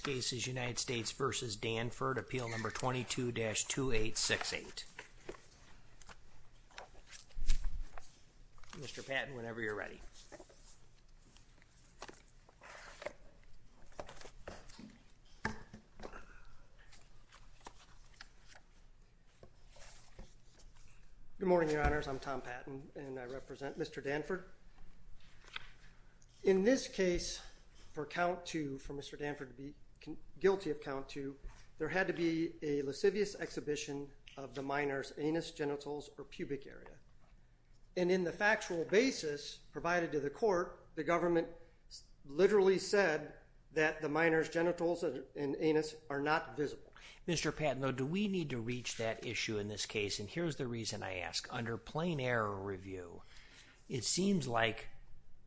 States v. Danford, Appeal No. 22-2868. Mr. Patton, whenever you're ready. Good morning, Your Honors. I'm Tom Patton, and I represent Mr. Danford. In this case, for count two, for Mr. Danford to be guilty of count two, there had to be a lascivious exhibition of the minor's anus, genitals, or pubic area. And in the factual basis provided to the court, the government literally said that the minor's genitals and anus are not visible. Mr. Patton, though, do we need to reach that issue in this case? And here's the reason I ask. Under plain error review, it seems like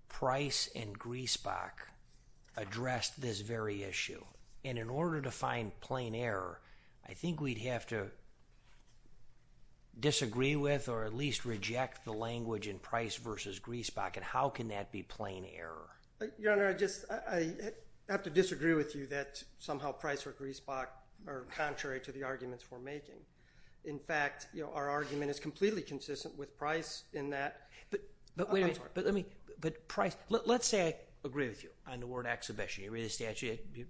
Price and Griesbach addressed this very issue. And in order to find plain error, I think we'd have to disagree with or at least reject the language in Price v. Griesbach. And how can that be plain error? Your Honor, I have to disagree with you that somehow Price or Griesbach are contrary to the arguments we're making. In fact, our argument is completely consistent with Price in that. But let's say I agree with you on the word exhibition. You read the statute. You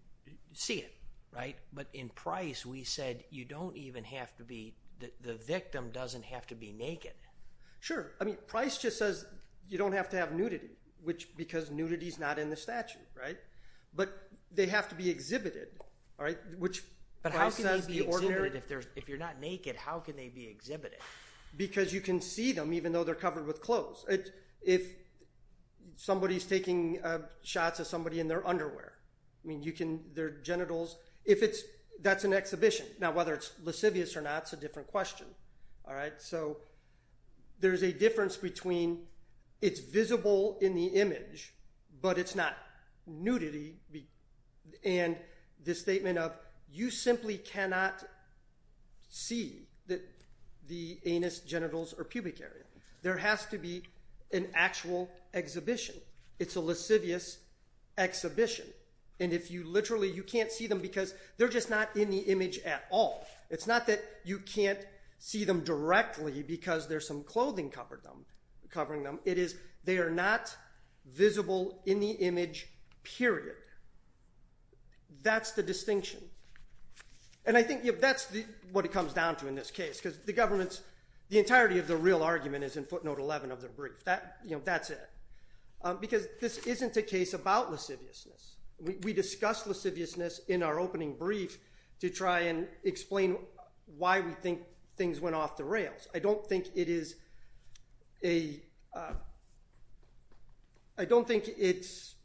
see it, right? But in Price, we said the victim doesn't have to be naked. Sure. I mean, Price just says you don't have to have nudity, because nudity's not in the statute, right? But they have to be exhibited. But how can they be exhibited? If you're not naked, how can they be exhibited? Because you can see them even though they're covered with clothes. If somebody's taking shots of somebody in their underwear, their genitals, that's an exhibition. Now whether it's lascivious or not is a different question. So there's a difference between it's visible in the image, but it's not nudity, and the statement of you simply cannot see that the anus, genitals, or pubic area. There has to be an actual exhibition. It's a lascivious exhibition. And if you literally, you can't see them because they're just not in the image at all. It's not that you can't see them directly because there's some clothing covering them. It is they are not visible in the image, period. That's the distinction. And I think that's what it comes down to in this case, because the government's, the entirety of the real argument is in footnote 11 of their brief. That's it. Because this isn't a case about lasciviousness. We discussed lasciviousness in our opening brief to try and explain why we think things went off the rails. I don't think it's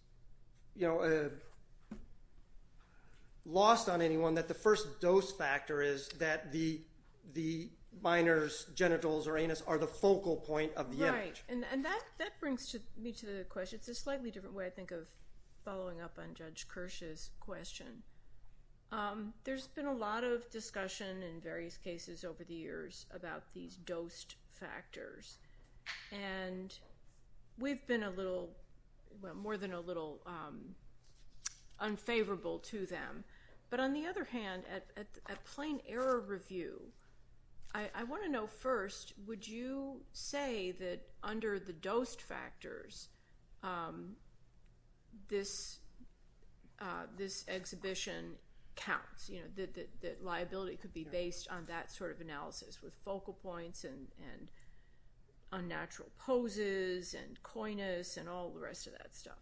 lost on anyone that the first dose factor is that the minor's genitals or anus are the focal point of the image. And that brings me to the question. It's a slightly different way, I think, of following up on Judge Kirsch's question. There's been a lot of discussion in various cases over the years about these dosed factors. And we've been a little, well, more than a little unfavorable to them. But on the other hand, at plain error review, I want to know first, would you say that under the dosed factors, this exhibition counts, that liability could be based on that sort of analysis with focal points and unnatural poses and coyness and all the rest of that stuff?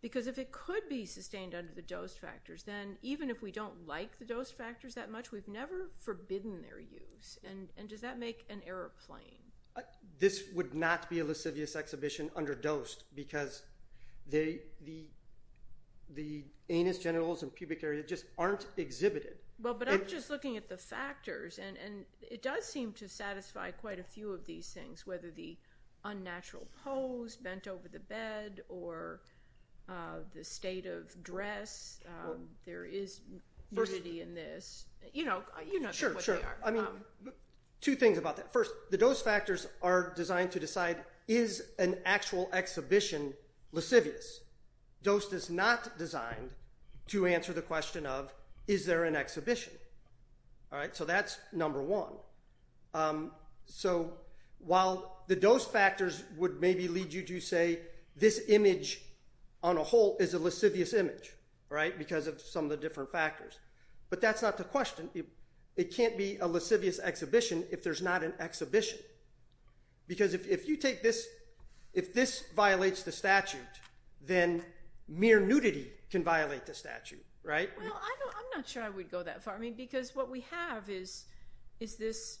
Because if it could be sustained under the dosed factors, then even if we don't like the dosed factors that much, we've never forbidden their use. And does that make an error plain? This would not be a lascivious exhibition under dosed, because the anus, genitals, and pubic area just aren't exhibited. Well, but I'm just looking at the factors. And it does seem to satisfy quite a few of these things, whether the unnatural pose, bent over the bed, or the state of dress. There is validity in this. You know, you know what they are. I mean, two things about that. First, the dosed factors are designed to decide, is an actual exhibition lascivious? Dosed is not designed to answer the question of, is there an exhibition? All right, so that's number one. So while the dosed factors would maybe lead you to say, this image on a whole is a lascivious image, right, because of some of the different factors. But that's not the question. It can't be a lascivious exhibition if there's not an exhibition. Because if you take this, if this violates the statute, then mere nudity can violate the statute, right? Well, I'm not sure I would go that far. I mean, because what we have is this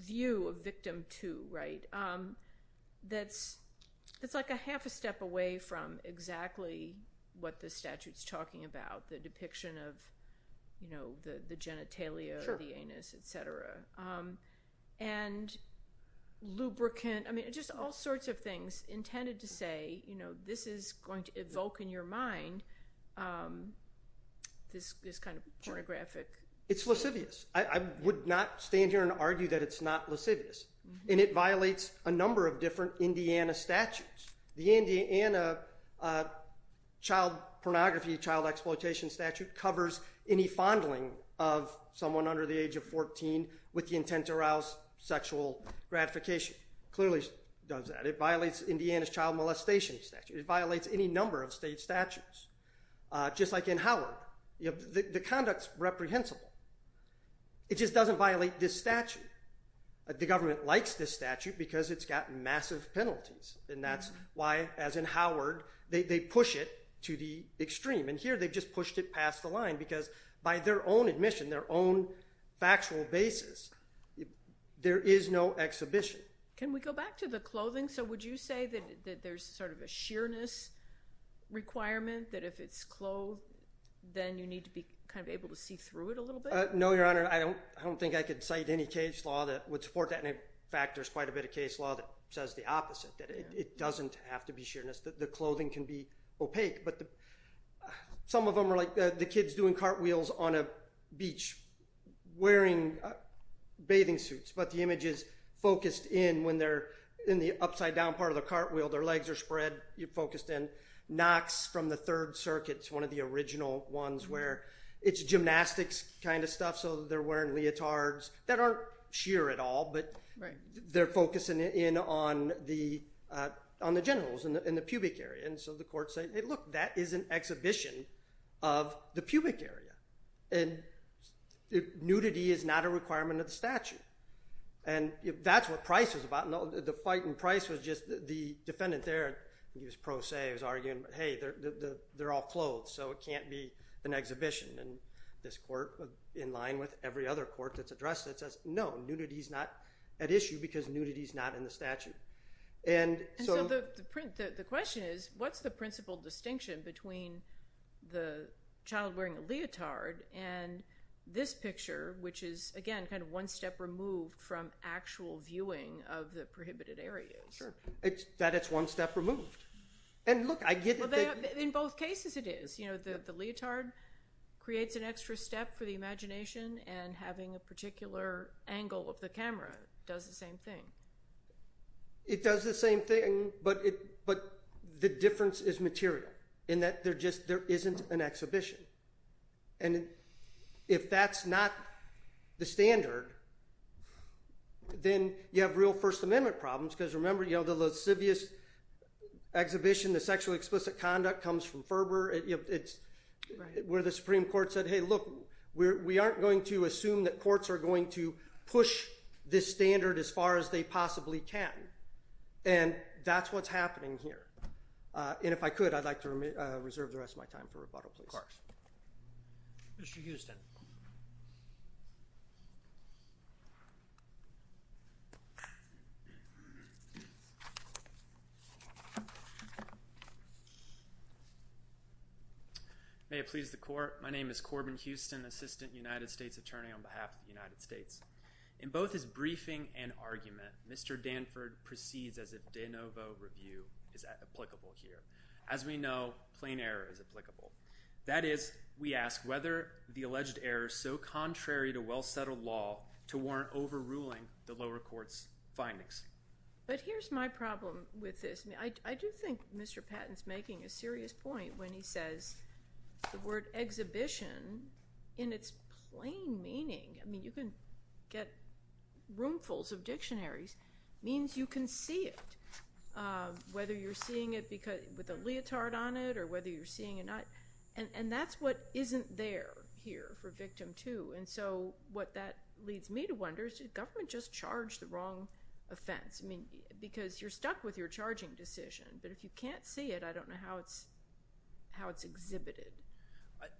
view of victim two, right, that's like a half a step away from exactly what the statute's talking about, the depiction of the genitalia, the anus, et cetera. And lubricant, I mean, just all sorts of things intended to say, you know, this is going to evoke in your mind this kind of pornographic. It's lascivious. I would not stand here and argue that it's not lascivious. And it violates a number of different Indiana statutes. The Indiana child pornography, child exploitation statute covers any fondling of someone under the age of 14 with the intent to arouse sexual gratification. It clearly does that. It violates Indiana's child molestation statute. It violates any number of state statutes. Just like in Howard, the conduct's reprehensible. It just doesn't violate this statute. The government likes this statute because it's got massive penalties. And that's why, as in Howard, they push it to the extreme. And here, they've just pushed it past the line because by their own admission, their own factual basis, there is no exhibition. Can we go back to the clothing? So would you say that there's sort of a sheerness requirement that if it's clothed, then you need to be kind of able to see through it a little bit? No, Your Honor. I don't think I could cite any case law that would support that. In fact, there's quite a bit of case law that says the opposite, that it doesn't have to be sheerness. The clothing can be opaque. But some of them are like the kids doing cartwheels on a beach wearing bathing suits. But the image is focused in when they're in the upside-down part of the cartwheel. Their legs are spread. You're focused in. Knox from the Third Circuit's one of the original ones where it's gymnastics kind of stuff. So they're wearing leotards that aren't sheer at all. But they're focusing in on the genitals and the pubic area. And so the court said, hey, look, that is an exhibition of the pubic area. And nudity is not a requirement of the statute. And that's what Price was about. The fight in Price was just the defendant there. He was pro se. He was arguing, hey, they're all clothed. So it can't be an exhibition. And this court, in line with every other court that's addressed it, says, no, nudity is not at issue because nudity is not in the statute. And so the question is, what's the principal distinction between the child wearing a leotard and this picture, which is, again, kind of one step removed from actual viewing of the prohibited areas? Sure. That it's one step removed. And look, I get it. In both cases it is. The leotard creates an extra step for the imagination. And having a particular angle of the camera does the same thing. It does the same thing. But the difference is material in that there isn't an exhibition. And if that's not the standard, then you have real First Amendment problems. Because remember, the lascivious exhibition, the sexually explicit conduct, comes from Ferber. It's where the Supreme Court said, hey, look, we aren't going to assume that courts are going to push this standard as far as they possibly can. And that's what's happening here. And if I could, I'd like to reserve the rest of my time for rebuttal, please. May it please the Court. My name is Corbin Houston, Assistant United States Attorney on behalf of the United States. In both his briefing and argument, Mr. Danford proceeds as if de novo review is applicable here. As we know, plain error is applicable. That is, we ask whether the alleged error is so contrary to well-settled law to warrant overruling the lower court's findings. But here's my problem with this. I do think Mr. Patton is making a serious point when he says the word exhibition in its plain meaning—I mean, you can get roomfuls of dictionaries—means you can see it, whether you're seeing it with a leotard on it or whether you're seeing it not. And that's what isn't there here for victim two. And so what that leads me to wonder is, did government just charge the wrong offense? I mean, because you're stuck with your charging decision, but if you can't see it, I don't know how it's exhibited.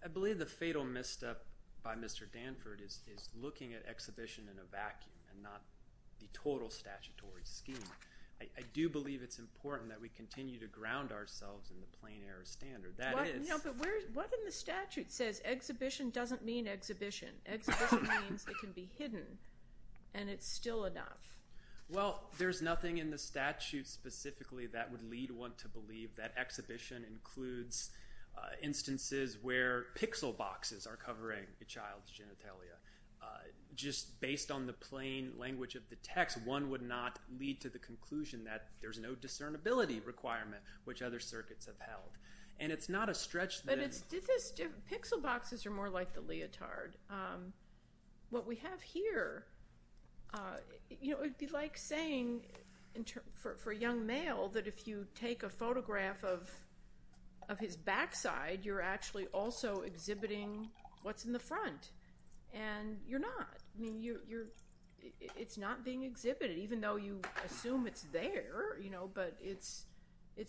I believe the fatal misstep by Mr. Danford is looking at exhibition in a vacuum and not the total statutory scheme. I do believe it's important that we continue to ground ourselves in the plain error standard. That is— You know, but what in the statute says exhibition doesn't mean exhibition? Exhibition means it can be hidden, and it's still enough. Well, there's nothing in the statute specifically that would lead one to believe that exhibition includes instances where pixel boxes are covering a child's genitalia. Just based on the plain language of the text, one would not lead to the conclusion that there's no discernibility requirement which other circuits have held. And it's not a stretch that it's— Pixel boxes are more like the leotard. What we have here, you know, it would be like saying in terms—for a young male that if you take a photograph of his backside, you're actually also exhibiting what's in the front. And you're not. I mean, you're—it's not being exhibited, even though you assume it's there, you know, but it's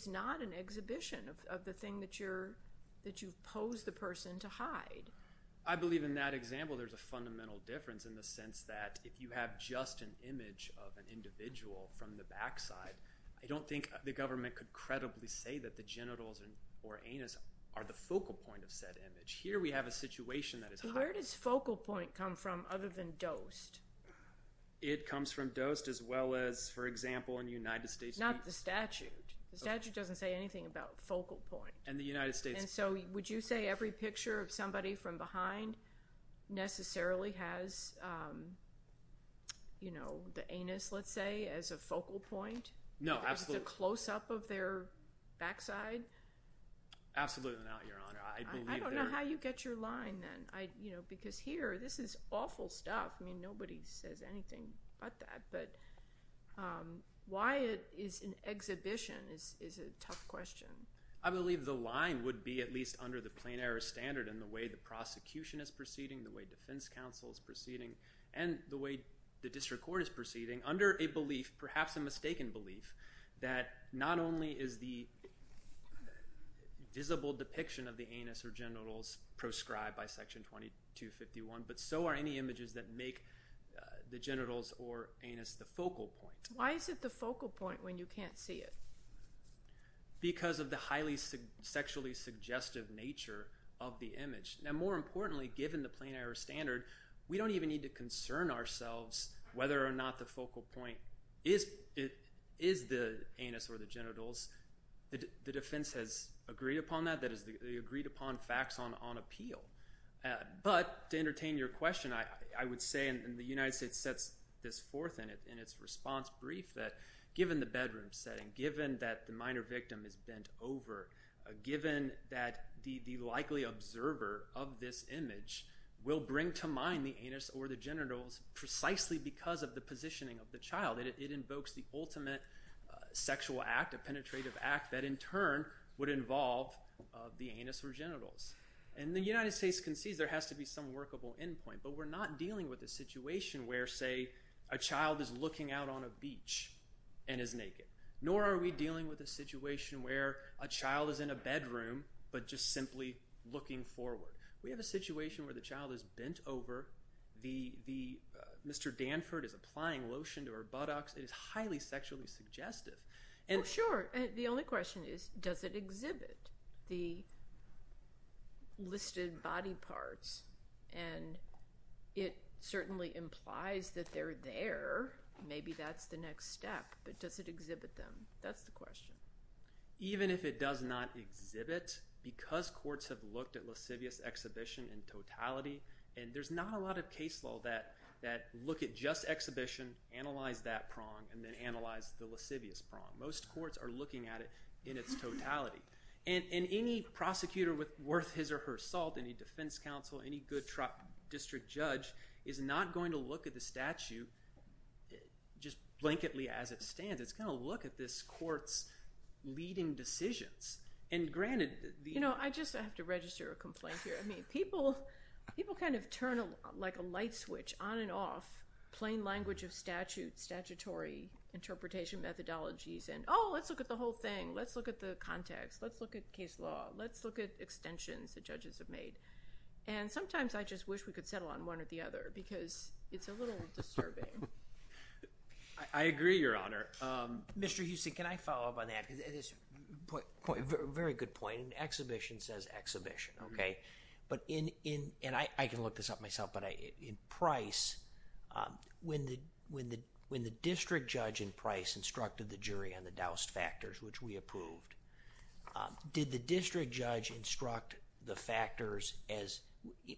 not an exhibition of the thing that you're—that you've posed the person to hide. I believe in that example there's a fundamental difference in the sense that if you have just an image of an individual from the backside, I don't think the government could credibly say that the genitals or anus are the focal point of said image. Here we have a situation that is— Where does focal point come from other than dosed? It comes from dosed as well as, for example, in the United States— Not the statute. The statute doesn't say anything about focal point. And the United States— And so would you say every picture of somebody from behind necessarily has, you know, the anus, let's say, as a focal point? No, absolutely. As a close-up of their backside? Absolutely not, Your Honor. I believe there— I don't know how you get your line then, you know, because here, this is awful stuff. I mean, nobody says anything but that, but why it is an exhibition is a tough question. I believe the line would be at least under the plain error standard in the way the prosecution is proceeding, the way defense counsel is proceeding, and the way the district court is proceeding, under a belief, perhaps a mistaken belief, that not only is the visible depiction of the anus or genitals proscribed by Section 2251, but so are any images that make the genitals or anus the focal point. Why is it the focal point when you can't see it? Because of the highly sexually suggestive nature of the image. Now, more importantly, given the plain error standard, we don't even need to concern ourselves whether or not the focal point is the anus or the genitals. The defense has agreed upon that. That is, they agreed upon facts on appeal. But to entertain your question, I would say, and the United States sets this forth in its response brief, that given the bedroom setting, given that the minor victim is bent over, given that the likely observer of this image will bring to mind the anus or the genitals precisely because of the positioning of the child. It invokes the ultimate sexual act, a penetrative act, that in turn would involve the anus or genitals. And the United States concedes there has to be some workable end point. But we're not dealing with a situation where, say, a child is looking out on a beach and is naked. Nor are we dealing with a situation where a child is in a bedroom but just simply looking forward. We have a situation where the child is bent over. Mr. Danford is applying lotion to her buttocks. It is highly sexually suggestive. Oh, sure. The only question is, does it exhibit the listed body parts? And it certainly implies that they're there. Maybe that's the next step. But does it exhibit them? That's the question. Even if it does not exhibit, because courts have looked at lascivious exhibition in totality, and there's not a lot of case law that look at just exhibition, analyze that prong, and then analyze the lascivious prong. Most courts are looking at it in its totality. And any prosecutor worth his or her salt, any defense counsel, any good district judge is not going to look at the statute just blanketly as it stands. It's going to look at this court's leading decisions. You know, I just have to register a complaint here. I mean, people kind of turn like a light switch on and off plain language of statute, statutory interpretation methodologies. And oh, let's look at the whole thing. Let's look at the context. Let's look at case law. Let's look at extensions the judges have made. And sometimes I just wish we could settle on one or the other because it's a little disturbing. I agree, Your Honor. Mr. Huston, can I follow up on that? Very good point. Exhibition says exhibition, okay? And I can look this up myself, but in Price, when the district judge in Price instructed the jury on the douse factors, which we approved, did the district judge instruct the factors as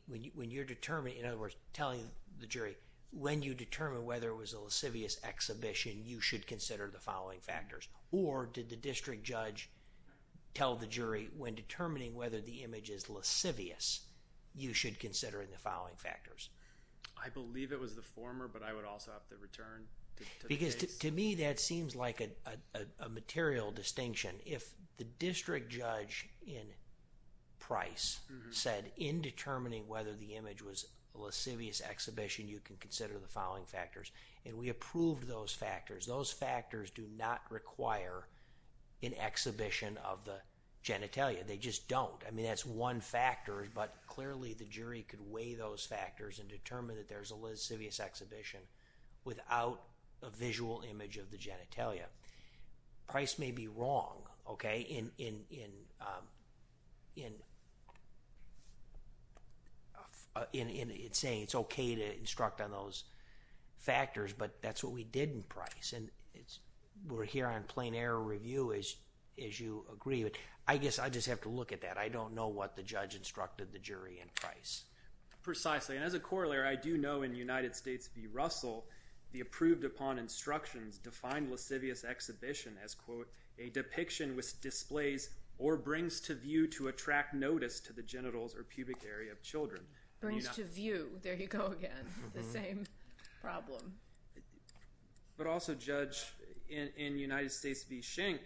when you're determined, in other words, telling the jury when you determine whether there was a lascivious exhibition, you should consider the following factors? Or did the district judge tell the jury when determining whether the image is lascivious, you should consider the following factors? I believe it was the former, but I would also have to return to the case. Because to me, that seems like a material distinction. If the district judge in Price said in determining whether the image was a lascivious exhibition, you can consider the following factors. And we approved those factors. Those factors do not require an exhibition of the genitalia. They just don't. I mean, that's one factor, but clearly the jury could weigh those factors and determine that there's a lascivious exhibition without a visual image of the genitalia. Price may be wrong in saying it's okay to instruct on those factors, but that's what we did in Price. We're here on plain error review, as you agree. I guess I just have to look at that. I don't know what the judge instructed the jury in Price. Precisely. And as a corollary, I do know in United States v. Russell, the approved upon instructions defined lascivious exhibition as, quote, a depiction which displays or brings to view to attract notice to the genitals or pubic area of children. Brings to view. There you go again. The same problem. But also, Judge, in United States v. Schenck,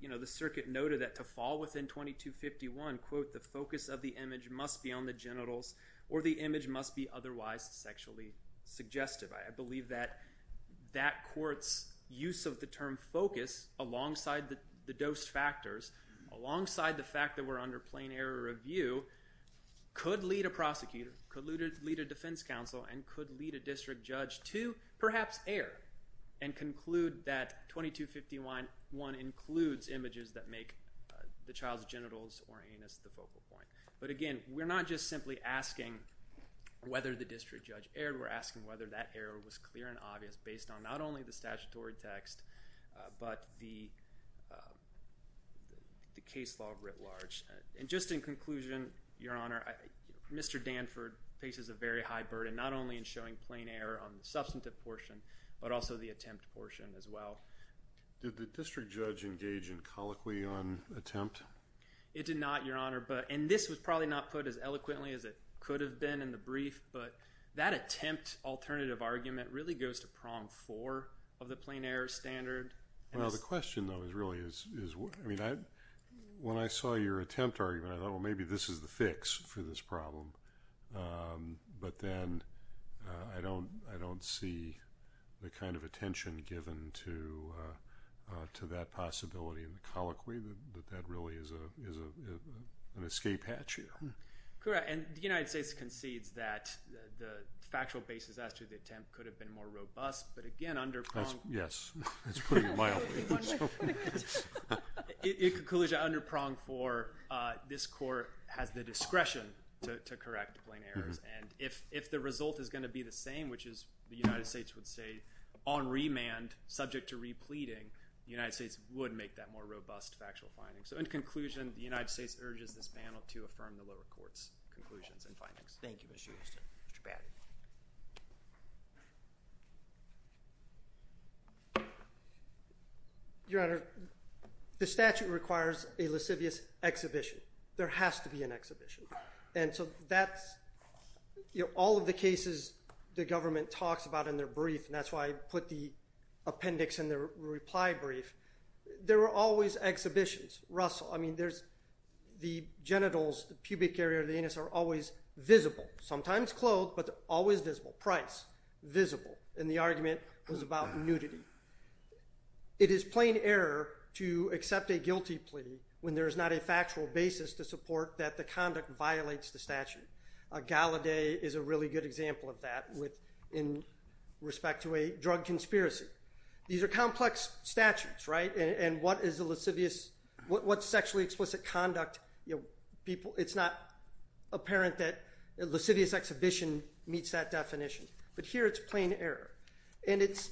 the circuit noted that to fall within 2251, quote, the focus of the image must be on the genitals or the image must be otherwise sexually suggestive. So I believe that that court's use of the term focus alongside the dose factors, alongside the fact that we're under plain error review, could lead a prosecutor, could lead a defense counsel, and could lead a district judge to perhaps err and conclude that 2251 includes images that make the child's genitals or anus the focal point. But again, we're not just simply asking whether the district judge erred. We're asking whether that error was clear and obvious based on not only the statutory text, but the case law writ large. And just in conclusion, Your Honor, Mr. Danford faces a very high burden not only in showing plain error on the substantive portion, but also the attempt portion as well. Did the district judge engage in colloquy on attempt? It did not, Your Honor. And this was probably not put as eloquently as it could have been in the brief. But that attempt alternative argument really goes to prom four of the plain error standard. Well, the question, though, is really is when I saw your attempt argument, I thought, well, maybe this is the fix for this problem. But then I don't see the kind of attention given to that possibility in the colloquy that that really is an escape hatch here. Correct. And the United States concedes that the factual basis as to the attempt could have been more robust. But again, under prong. Yes. That's pretty mild. In conclusion, under prong for this court has the discretion to correct plain errors. And if the result is going to be the same, which is the United States would say on remand subject to repleting, the United States would make that more robust factual finding. So in conclusion, the United States urges this panel to affirm the lower court's conclusions and findings. Thank you, Mr. Houston. Mr. Batty. Your Honor, the statute requires a lascivious exhibition. There has to be an exhibition. And so that's all of the cases the government talks about in their brief. And that's why I put the appendix in their reply brief. There are always exhibitions. Russell, I mean, the genitals, the pubic area of the anus are always visible. Sometimes clothed, but always visible. Price, visible. And the argument was about nudity. It is plain error to accept a guilty plea when there is not a factual basis to support that the conduct violates the statute. A gala day is a really good example of that in respect to a drug conspiracy. These are complex statutes, right? And what is a lascivious, what's sexually explicit conduct? It's not apparent that a lascivious exhibition meets that definition. But here it's plain error. And it's,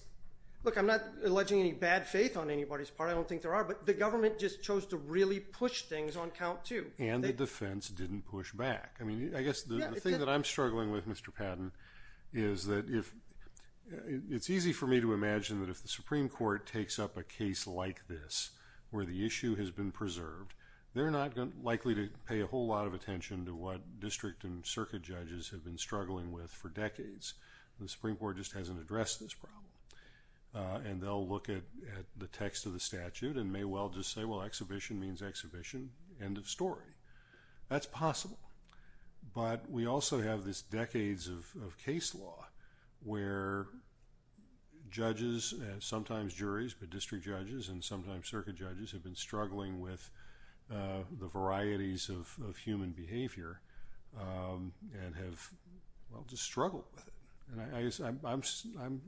look, I'm not alleging any bad faith on anybody's part. I don't think there are. But the government just chose to really push things on count too. And the defense didn't push back. I mean, I guess the thing that I'm struggling with, Mr. Patton, is that it's easy for me to imagine that if the Supreme Court takes up a case like this where the issue has been preserved, they're not likely to pay a whole lot of attention to what district and circuit judges have been struggling with for decades. The Supreme Court just hasn't addressed this problem. And they'll look at the text of the statute and may well just say, well, exhibition means exhibition, end of story. That's possible. But we also have this decades of case law where judges and sometimes juries, but district judges and sometimes circuit judges have been struggling with the varieties of human behavior and have, well, just struggled with it. And I'm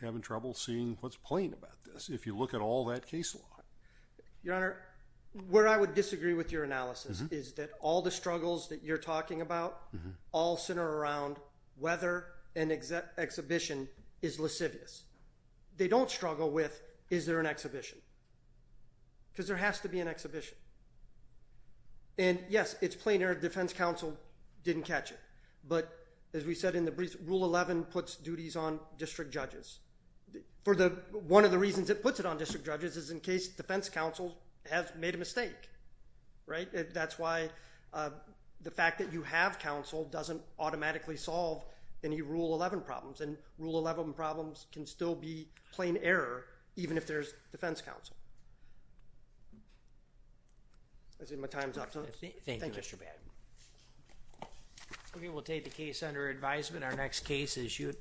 having trouble seeing what's plain about this if you look at all that case law. Your Honor, where I would disagree with your analysis is that all the struggles that you're talking about all center around whether an exhibition is lascivious. They don't struggle with is there an exhibition because there has to be an exhibition. And, yes, it's plain error. Defense counsel didn't catch it. But as we said in the brief, Rule 11 puts duties on district judges. One of the reasons it puts it on district judges is in case defense counsel has made a mistake. Right? That's why the fact that you have counsel doesn't automatically solve any Rule 11 problems. And Rule 11 problems can still be plain error even if there's defense counsel. I see my time's up. Thank you, Mr. Bannon. Okay, we'll take the case under advisement. Our next case is you.